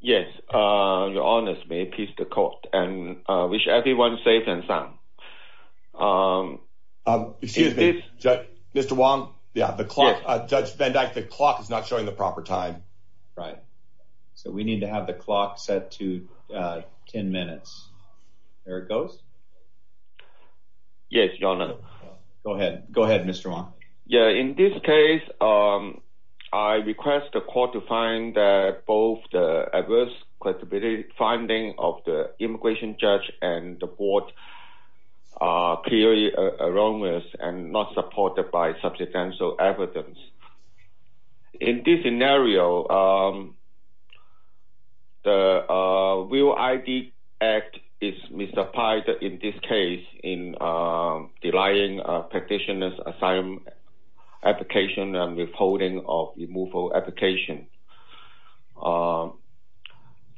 yes uh your honors may peace the court and uh wish everyone safe and sound um um excuse me judge mr wong yeah the clock uh judge van dyke the clock is not showing the proper time right so we need to have the clock set to uh 10 minutes there it goes yes your honor go ahead go ahead mr wong yeah in this case um i request the court to find that both the adverse credibility finding of the immigration judge and the board are clearly erroneous and not supported by substantial evidence in this scenario um the uh real id act is misapplied in this case in uh denying a petitioner's asylum application and withholding of removal application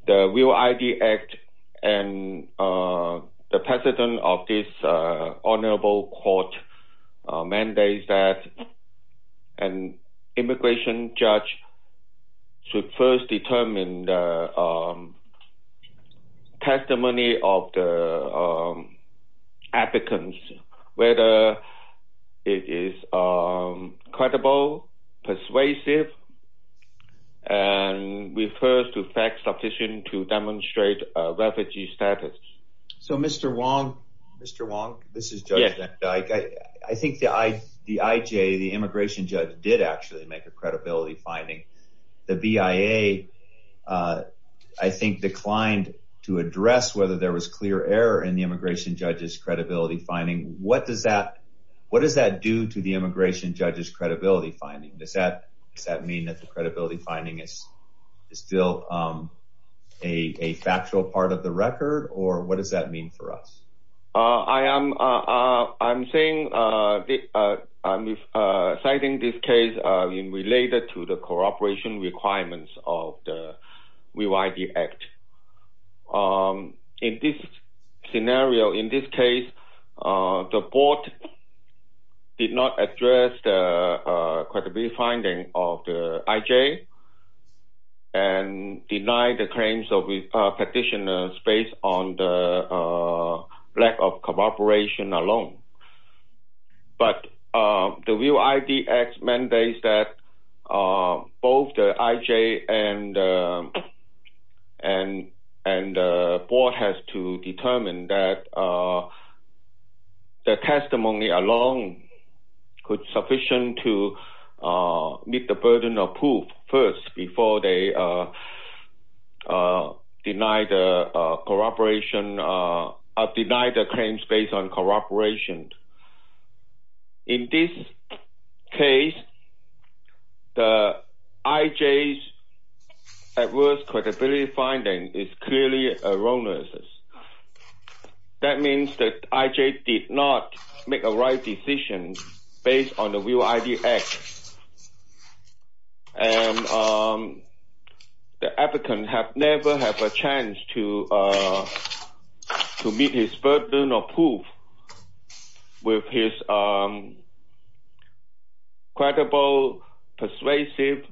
the real id act and uh the president of this uh honorable court mandates that an immigration judge should first determine the testimony of the um applicants whether it is um credible persuasive and refers to facts sufficient to demonstrate a refugee status so mr wong mr wong this is judge i think the i the ij the immigration judge did actually make a credibility finding the bia uh i think declined to address whether there was clear error in the immigration judge's credibility finding what does that what does that do to the immigration judge's credibility finding does that does that mean that the credibility finding is is still um a a factual part of the record or what does that mean for us uh i am uh i'm saying uh the uh i'm uh citing this case uh in related to the cooperation requirements of the real id act um in this scenario in this case uh the board did not address the credibility finding of the ij and deny the claims of petitioners based on the lack of cooperation alone but uh the real idx mandates that uh both the ij and and and the board has to determine that uh the testimony alone could sufficient to uh meet the burden of proof first before they uh uh deny the uh corroboration uh of deny the claims based on corroboration in this case the ij's adverse credibility finding is clearly erroneous that means that ij did not make a right decision based on the real idx and um the applicant have never have a chance to uh to meet his burden of proof with his um credible persuasive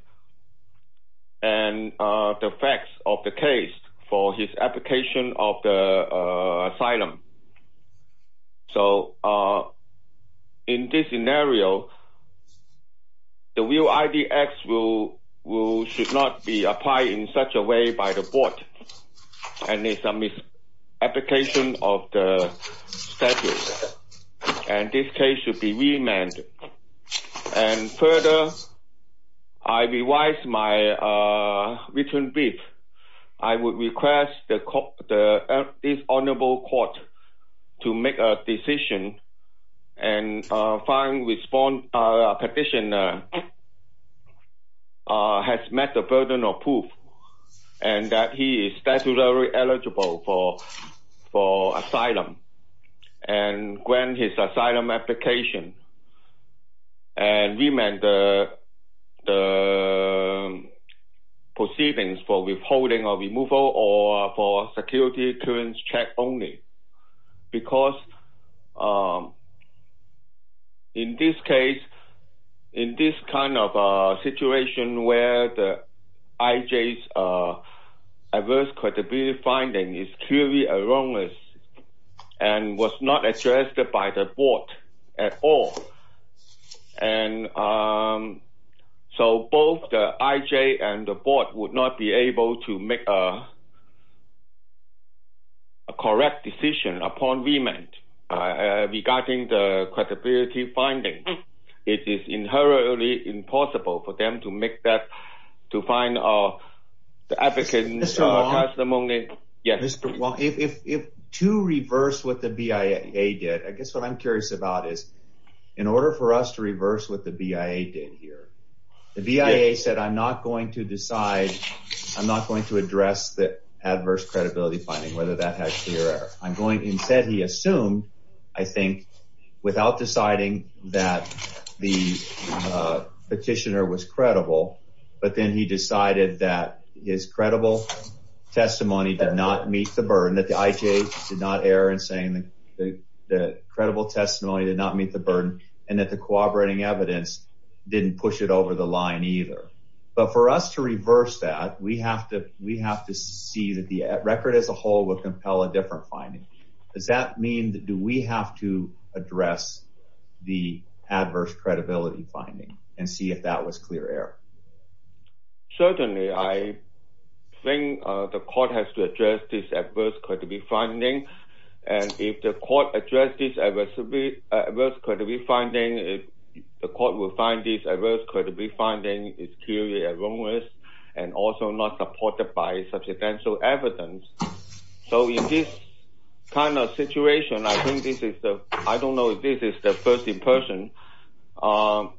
and uh the facts of the case for his application of the asylum so uh in this scenario the real idx will will should not be applied in such a way by the board and it's a misapplication of the status and this case should be remanded and further i revised my uh written brief i would request the court the dishonorable court to make a decision and uh find respond uh petitioner uh has met the burden of proof and that he is statutorily eligible for for asylum and grant his asylum application and remand the the proceedings for withholding or removal or for security clearance check only because um in this case in this kind of a situation where the and was not addressed by the board at all and um so both the ij and the board would not be able to make a a correct decision upon remand regarding the credibility finding it is inherently impossible for them to make that to find uh the advocates testimony yes well if if to reverse what the bia did i guess what i'm curious about is in order for us to reverse what the bia did here the bia said i'm not going to decide i'm not going to address the adverse credibility finding whether that has i'm going instead he assumed i think without deciding that the petitioner was credible but then he decided that his credible testimony did not meet the burden that the ij did not err in saying the the credible testimony did not meet the burden and that the cooperating evidence didn't push it over the line either but for us to reverse that we have to we have to see that the record as a whole would compel a different finding does that mean that do we have to address the adverse credibility finding and see if that was clear error certainly i think uh the court has to address this adverse credibility finding and if the court addressed this ever to be adverse credibility finding if the court will find this adverse credibility finding is clearly and also not supported by substantial evidence so in this kind of situation i think this is the i don't know if this is the first in person um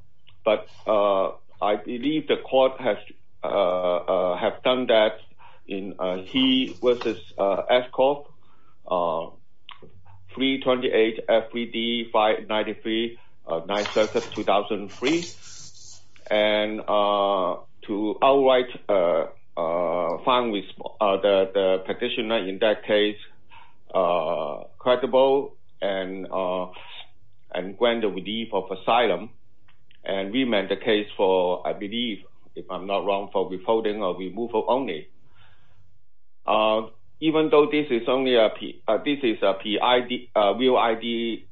but uh i believe the court has uh uh have done that in uh t versus uh escort uh 328 fbd 593 uh 9 circus 2003 and uh to outright uh uh find with uh the the petitioner in that case uh credible and uh and grant the relief of asylum and we meant the case for i believe if i'm not wrong for withholding or removal only uh even though this is only a p this is a p id real id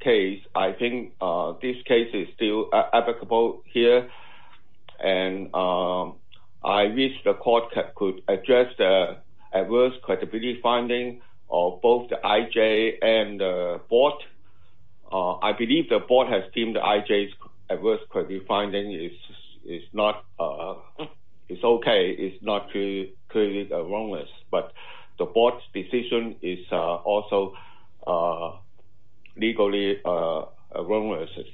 case i think uh this case is still applicable here and um i wish the court could address the adverse credibility finding of both the ij and the board i believe the board has deemed the ij's adverse credit finding is it's not uh it's okay it's not to create a wrongness but the board's decision is uh also uh legally uh wrongnesses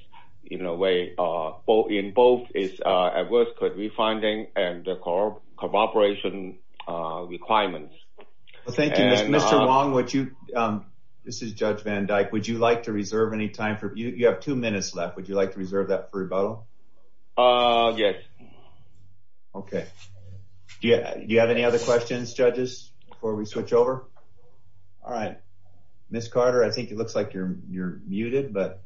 in a way uh both in both is uh adverse could be finding and the cooperation uh requirements well thank you mr wong would you um this is judge van dyke would you like to reserve any time for you you have two minutes left would you like to reserve that for rebuttal uh yes okay yeah do you have any other questions judges before we switch over all right miss carter i think it looks like you're you're muted but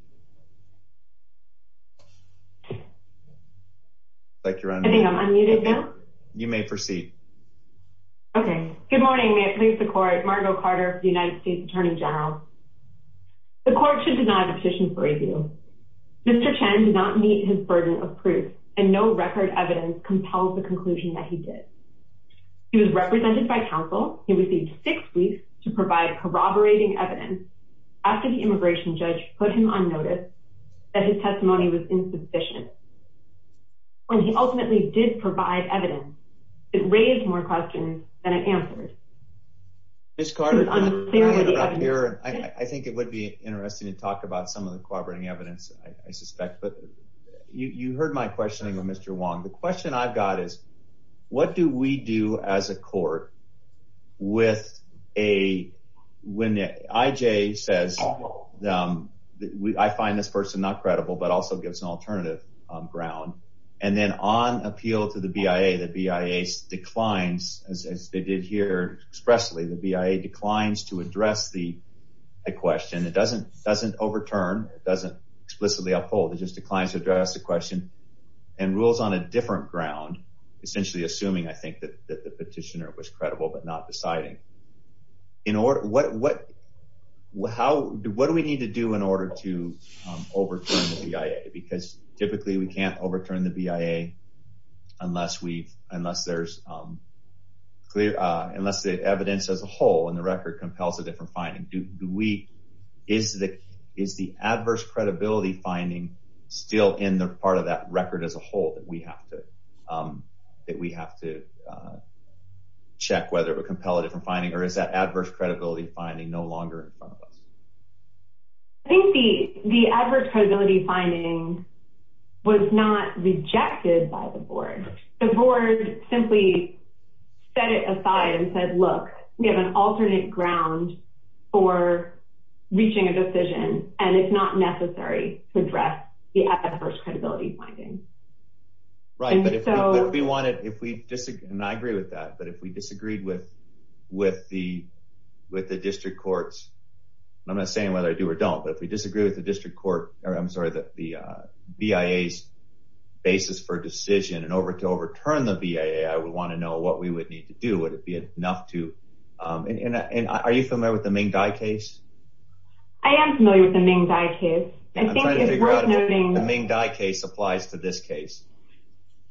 i think i'm unmuted now you may proceed okay good morning may it please the court margo carter united states attorney general the court should deny the petition for review mr chen did not meet his burden of proof and no record evidence compelled the conclusion that he did he was represented by council he received six weeks to provide corroborating evidence after the that his testimony was insufficient when he ultimately did provide evidence it raised more questions than it answered miss carter i think it would be interesting to talk about some of the corroborating evidence i suspect but you you heard my questioning of mr wong the question i've gives an alternative ground and then on appeal to the bia the bia declines as they did here expressly the bia declines to address the question it doesn't doesn't overturn it doesn't explicitly uphold it just declines to address the question and rules on a different ground essentially assuming i think that the petitioner was credible but not deciding in order what what how what do we need to do in order to overturn the bia because typically we can't overturn the bia unless we've unless there's um clear uh unless the evidence as a whole and the record compels a different finding do we is the is the adverse credibility finding still in the part of that record as a whole that we have to um that we have to uh check whether it would compel a different finding or is that adverse credibility finding no longer in front of us i think the the adverse credibility finding was not rejected by the board the board simply set it aside and said look we have an alternate ground for reaching a decision and it's not necessary to address the adverse credibility finding right but if we wanted if we and i agree with that but if we disagreed with with the with the district courts i'm not saying whether i do or don't but if we disagree with the district court or i'm sorry that the bia's basis for decision and over to overturn the bia i would want to know what we would need to do would it be enough to um and and are you familiar with the ming dai case i am familiar with the ming dai case i think it's worth noting the ming dai case applies to this case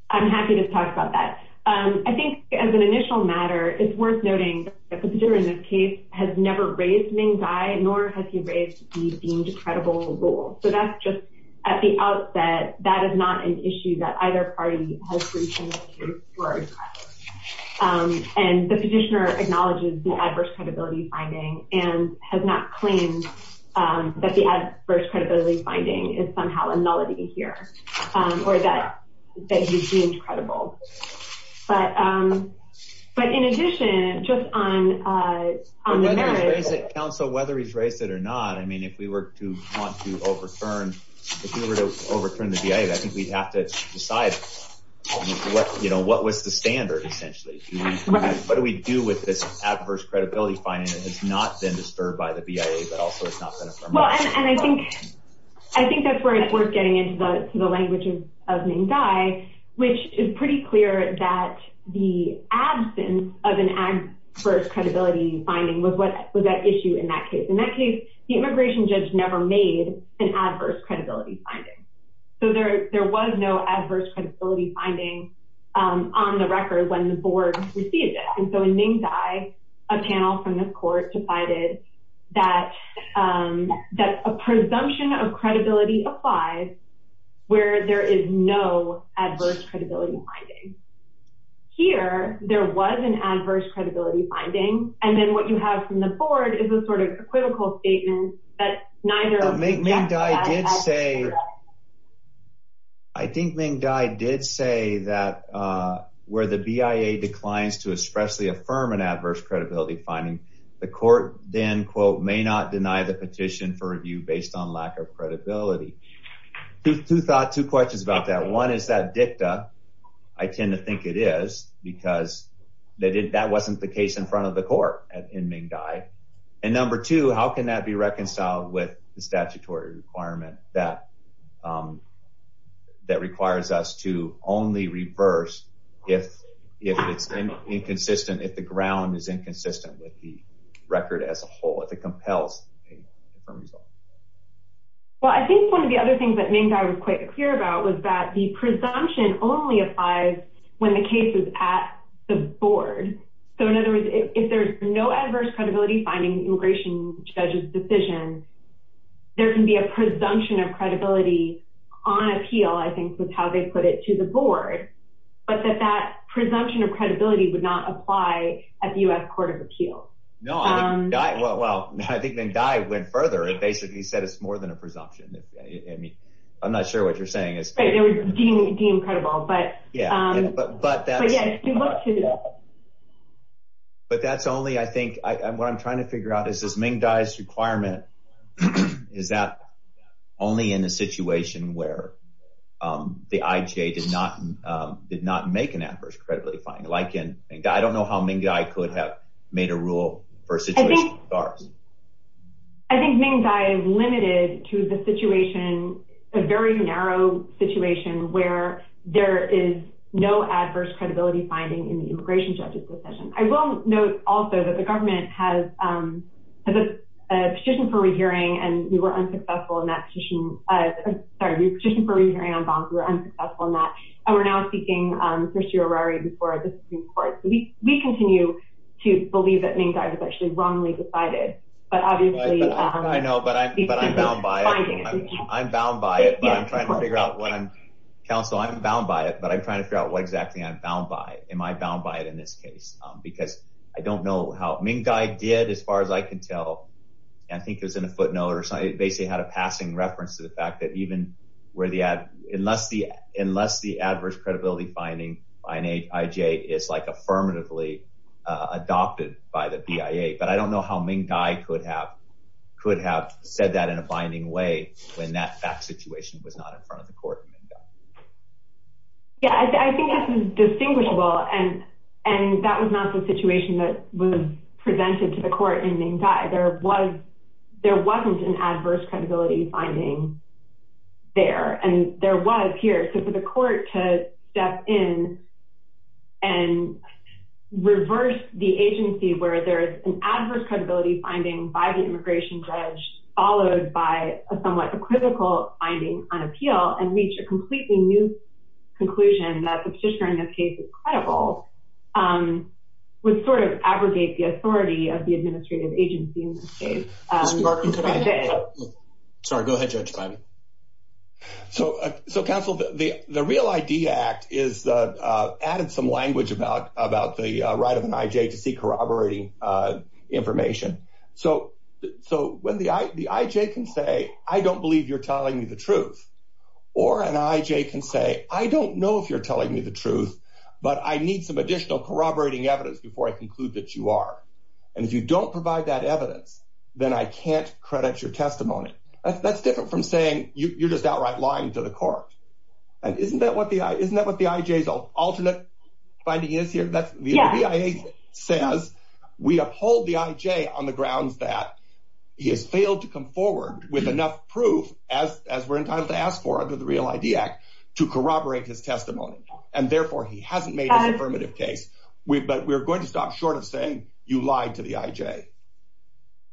i'm happy to talk about that um i think as an initial matter it's worth noting that the petitioner in this case has never raised ming dai nor has he raised the deemed credible rule so that's just at the outset that is not an issue that either party has reached in this case um and the petitioner acknowledges the adverse credibility finding and has not claimed um that the adverse credibility finding is somehow here um or that that he's deemed credible but um but in addition just on uh on the marriage counsel whether he's raised it or not i mean if we were to want to overturn if we were to overturn the bia i think we'd have to decide what you know what was the standard essentially what do we do with this adverse credibility finding it has not been disturbed by the bia but also it's not well and i think i think that's where it's worth getting into the languages of ming dai which is pretty clear that the absence of an adverse credibility finding was what was that issue in that case in that case the immigration judge never made an adverse credibility finding so there there was no adverse credibility finding um on the record when the board received it and in ming dai a panel from the court decided that um that a presumption of credibility applies where there is no adverse credibility finding here there was an adverse credibility finding and then what you have from the board is a sort of a critical statement that neither make ming dai say i think ming dai did say that uh where the bia declines to especially affirm an adverse credibility finding the court then quote may not deny the petition for review based on lack of credibility two thought two questions about that one is that dicta i tend to think it is because they did that wasn't the case in front of the court at in ming dai and number two how can that be reconciled with the statutory requirement that um that requires us to only reverse if if it's inconsistent if the ground is inconsistent with the record as a whole if it compels well i think one of the other things that ming dai was quite clear about was that the presumption only applies when the case is at the board so in other words if there's no adverse credibility finding the immigration judge's decision there can be a presumption of credibility on appeal i think that's how they put it to the board but that that presumption of credibility would not apply at the u.s court of appeals no i mean well i think ming dai went further and basically said it's more than a presumption i mean i'm not sure what you're saying is right incredible but yeah but but that's but that's only i think i'm what i'm trying to figure out is this ming dai's requirement is that only in a situation where um the ij did not um did not make an adverse credibility finding like in i don't know how ming i could have made a rule for a situation with ours i think ming dai is limited to the situation a very narrow situation where there is no adverse credibility finding in the immigration judge's decision i will note also that the government has um has a petition for re-hearing and we were unsuccessful in that sorry your petition for re-hearing on bonds were unsuccessful in that and we're now seeking um actually wrongly decided but obviously i know but i'm but i'm bound by it i'm bound by it but i'm trying to figure out what i'm counsel i'm bound by it but i'm trying to figure out what exactly i'm bound by am i bound by it in this case um because i don't know how ming dai did as far as i can tell and i think it was in a footnote or something basically had a passing reference to the fact that even where the ad unless the unless the adverse credibility finding ij is like affirmatively uh adopted by the bia but i don't know how ming dai could have could have said that in a binding way when that fact situation was not in front of the court yeah i think this is distinguishable and and that was not the situation that was presented to the court in ming dai there was there wasn't an adverse credibility finding there and there was here so for the court to step in and reverse the agency where there is an adverse credibility finding by the immigration judge followed by a somewhat equivocal finding on appeal and reach a completely new conclusion that the petitioner in this case is credible um would sort of abrogate the authority of the administrative agency in this case um sorry go ahead judge so so counsel the the real id act is uh added some language about about the right of an ij to see corroborating uh information so so when the i the ij can say i don't believe you're telling me the truth or an ij can say i don't know if you're telling me the truth but i need some additional corroborating evidence before i conclude that you are and if don't provide that evidence then i can't credit your testimony that's different from saying you you're just outright lying to the court and isn't that what the isn't that what the ij's alternate finding is here that's the via says we uphold the ij on the grounds that he has failed to come forward with enough proof as as we're entitled to ask for under the real id act to corroborate his testimony and therefore he hasn't made an affirmative case we but we're going to stop short you lied to the ij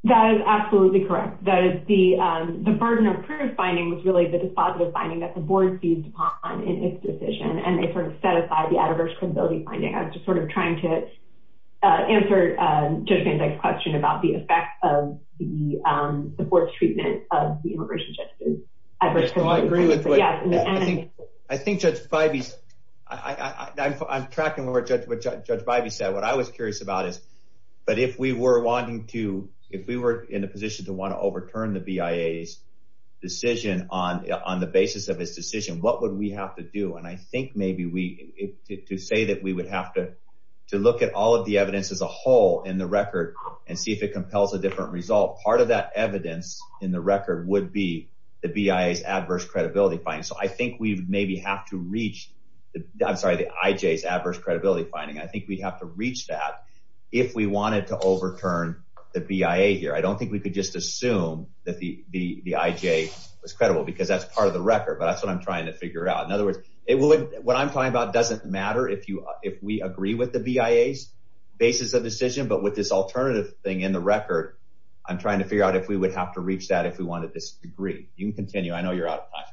that is absolutely correct that is the um the burden of proof finding was really the dispositive finding that the board seized upon in its decision and they sort of set aside the adverse credibility finding i was just sort of trying to uh answer uh just a question about the effect of the um the board's treatment of the immigration justice i just don't agree with what i think i think judge five is i i i'm i'm tracking the word judge what judge bivy said what i was curious about is but if we were wanting to if we were in a position to want to overturn the bia's decision on on the basis of his decision what would we have to do and i think maybe we to say that we would have to to look at all of the evidence as a whole in the record and see if it compels a different result part of that evidence in the record would be the bia's adverse credibility finding so i think we maybe have to reach the i'm sorry the ij's adverse credibility finding i think we'd have to reach that if we wanted to overturn the bia here i don't think we could just assume that the the the ij was credible because that's part of the record but that's what i'm trying to figure out in other words it will what i'm talking about doesn't matter if you if we agree with the bia's basis of decision but with this alternative thing in the record i'm trying to figure out if we would have to reach that if we wanted this degree you can continue i know you're ahead of time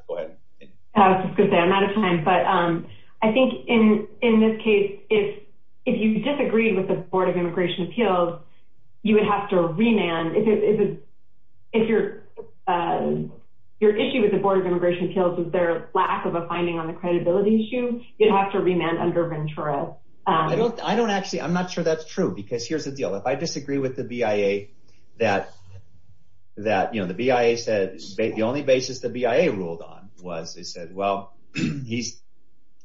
but um i think in in this case if if you disagreed with the board of immigration appeals you would have to remand if it if your uh your issue with the board of immigration appeals is their lack of a finding on the credibility issue you'd have to remand under ventura i don't i don't actually i'm not sure that's true because here's the deal if i disagree with the bia that that you know the bia said the only basis the bia ruled on was they said well he's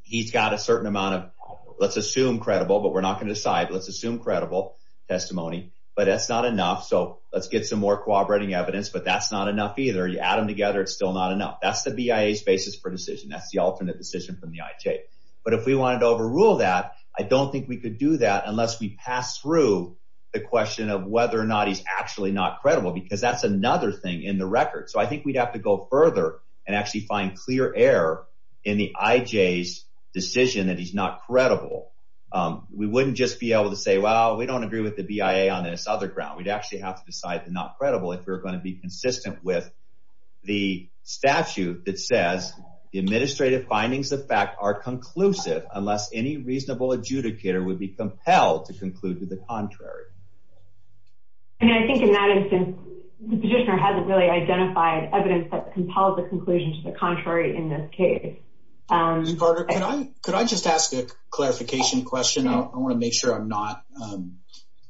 he's got a certain amount of let's assume credible but we're not going to decide let's assume credible testimony but that's not enough so let's get some more cooperating evidence but that's not enough either you add them together it's still not enough that's the bia's basis for decision that's the alternate decision from the ij but if we wanted to overrule that i don't think we could do that unless we pass through the question of whether or not he's actually not credible because that's another thing in the record so i think we'd have to go further and actually find clear air in the ij's decision that he's not credible um we wouldn't just be able to say well we don't agree with the bia on this other ground we'd actually have to decide the not credible if we're going to be consistent with the statute that says the administrative findings of fact are conclusive unless any reasonable adjudicator would be compelled to conclude to the contrary and i think in that instance the petitioner hasn't really identified evidence that compelled the conclusion to the contrary in this case um could i could i just ask a clarification question i want to make sure i'm not um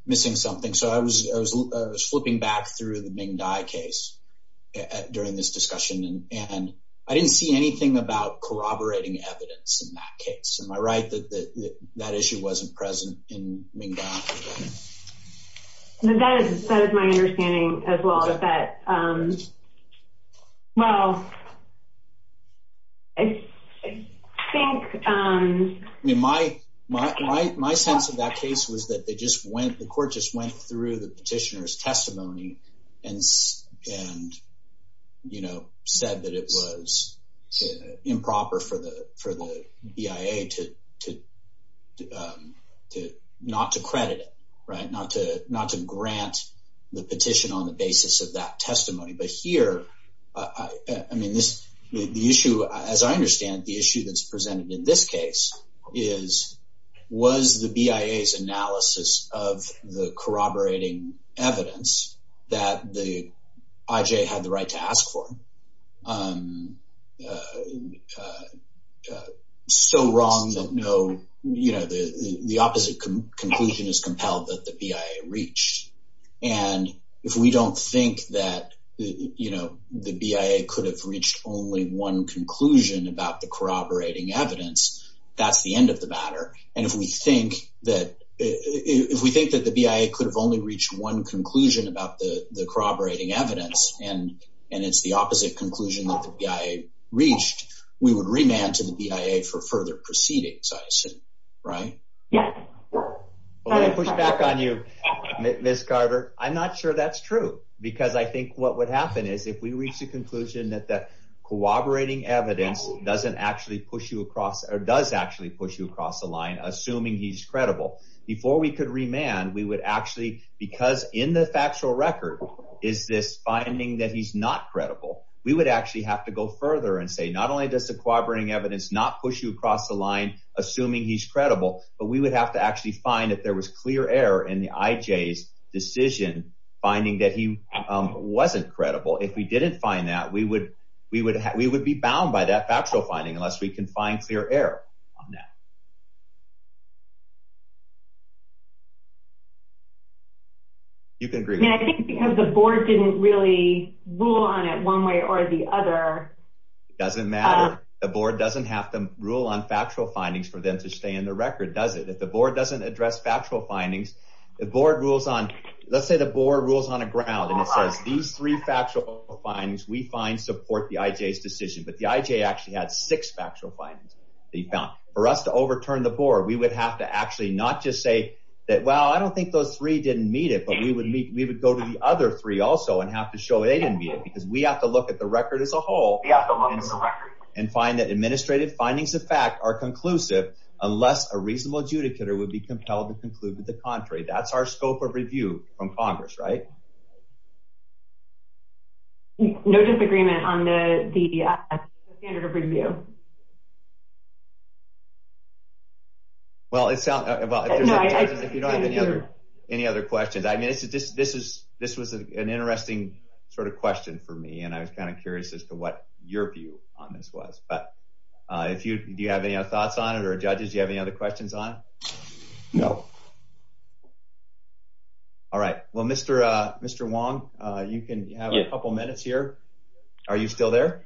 missing something so i was i was flipping back through the ming dai case during this discussion and i didn't see anything about corroborating evidence in that case am i right that that issue wasn't present in ming dai that is that is my understanding as well as that um well i think um i mean my my my sense of that case was that they just went the court just went through the petitioner's testimony and and you know said that it was improper for the for the bia to to um to not to credit it right not to not to grant the petition on the basis of that testimony but here i i mean this the issue as i understand the issue that's presented in this case is was the bia's analysis of the corroborating evidence that the ij had the to ask for um uh so wrong that no you know the the opposite conclusion is compelled that the bia reached and if we don't think that you know the bia could have reached only one conclusion about the corroborating evidence that's the end of the matter and if we think that if we think that the bia could have only reached one conclusion about the the corroborating evidence and and it's the opposite conclusion that the bia reached we would remand to the bia for further proceedings i assume right yeah well let me push back on you miss carver i'm not sure that's true because i think what would happen is if we reach the conclusion that that corroborating evidence doesn't actually push you across or does actually push you across the line assuming he's credible before we could remand we would actually because in the factual record is this finding that he's not credible we would actually have to go further and say not only does the corroborating evidence not push you across the line assuming he's credible but we would have to actually find if there was clear error in the ij's decision finding that he um wasn't credible if we didn't find that we would we would we would be bound by that factual finding unless we can find clear error on that you can agree i think because the board didn't really rule on it one way or the other doesn't matter the board doesn't have to rule on factual findings for them to stay in the record does it if the board doesn't address factual findings the board rules on let's say the board rules on a ground and it says these three factual findings we find support the ij's decision but the ij actually had six factual findings they found for us to overturn the board we would have to actually not just say that well i don't think those three didn't meet it but we would meet we would go to the other three also and have to show they didn't be it because we have to look at the record as a whole and find that administrative findings of fact are conclusive unless a reasonable adjudicator would be compelled to conclude with the contrary that's our scope of review from congress right no disagreement on the the standard of review no well it sounds about if you don't have any other any other questions i mean this is this is this was an interesting sort of question for me and i was kind of curious as to what your view on this was but uh if you do you have any other thoughts on it or judges you have any other questions on no all right well mr uh mr wong uh you can have a couple minutes here are you still there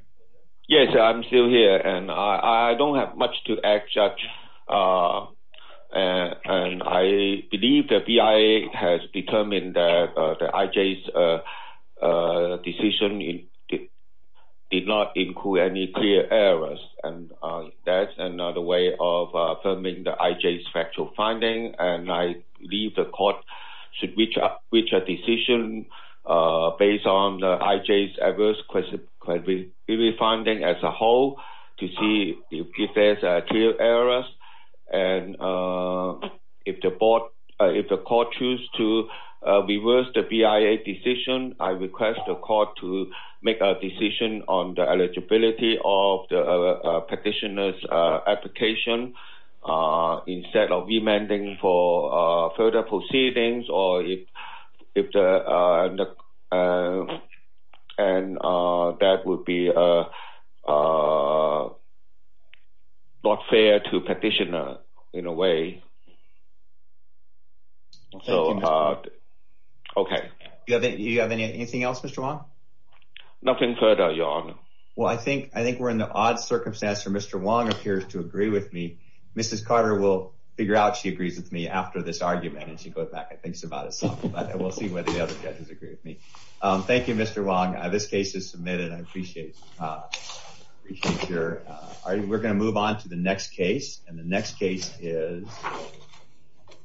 yes i'm still here and i i don't have much to add judge uh and i believe the bia has determined that the ij's uh uh decision it did not include any clear errors and uh that's another way of affirming the ij's factual finding and i believe the court should reach up which a decision uh based on the j's adverse question could be refunding as a whole to see if there's a clear errors and if the board if the court choose to reverse the bia decision i request the court to make a decision on the eligibility of the petitioner's application instead of demanding for further proceedings or if if the uh and uh that would be uh uh not fair to petitioner in a way okay you have anything else mr wong nothing further your honor well i think i think we're in the odd circumstance where mr wong appears to agree with me mrs carter will figure out she whether the other judges agree with me um thank you mr wong this case is submitted i appreciate appreciate your uh all right we're going to move on to the next case and the next case is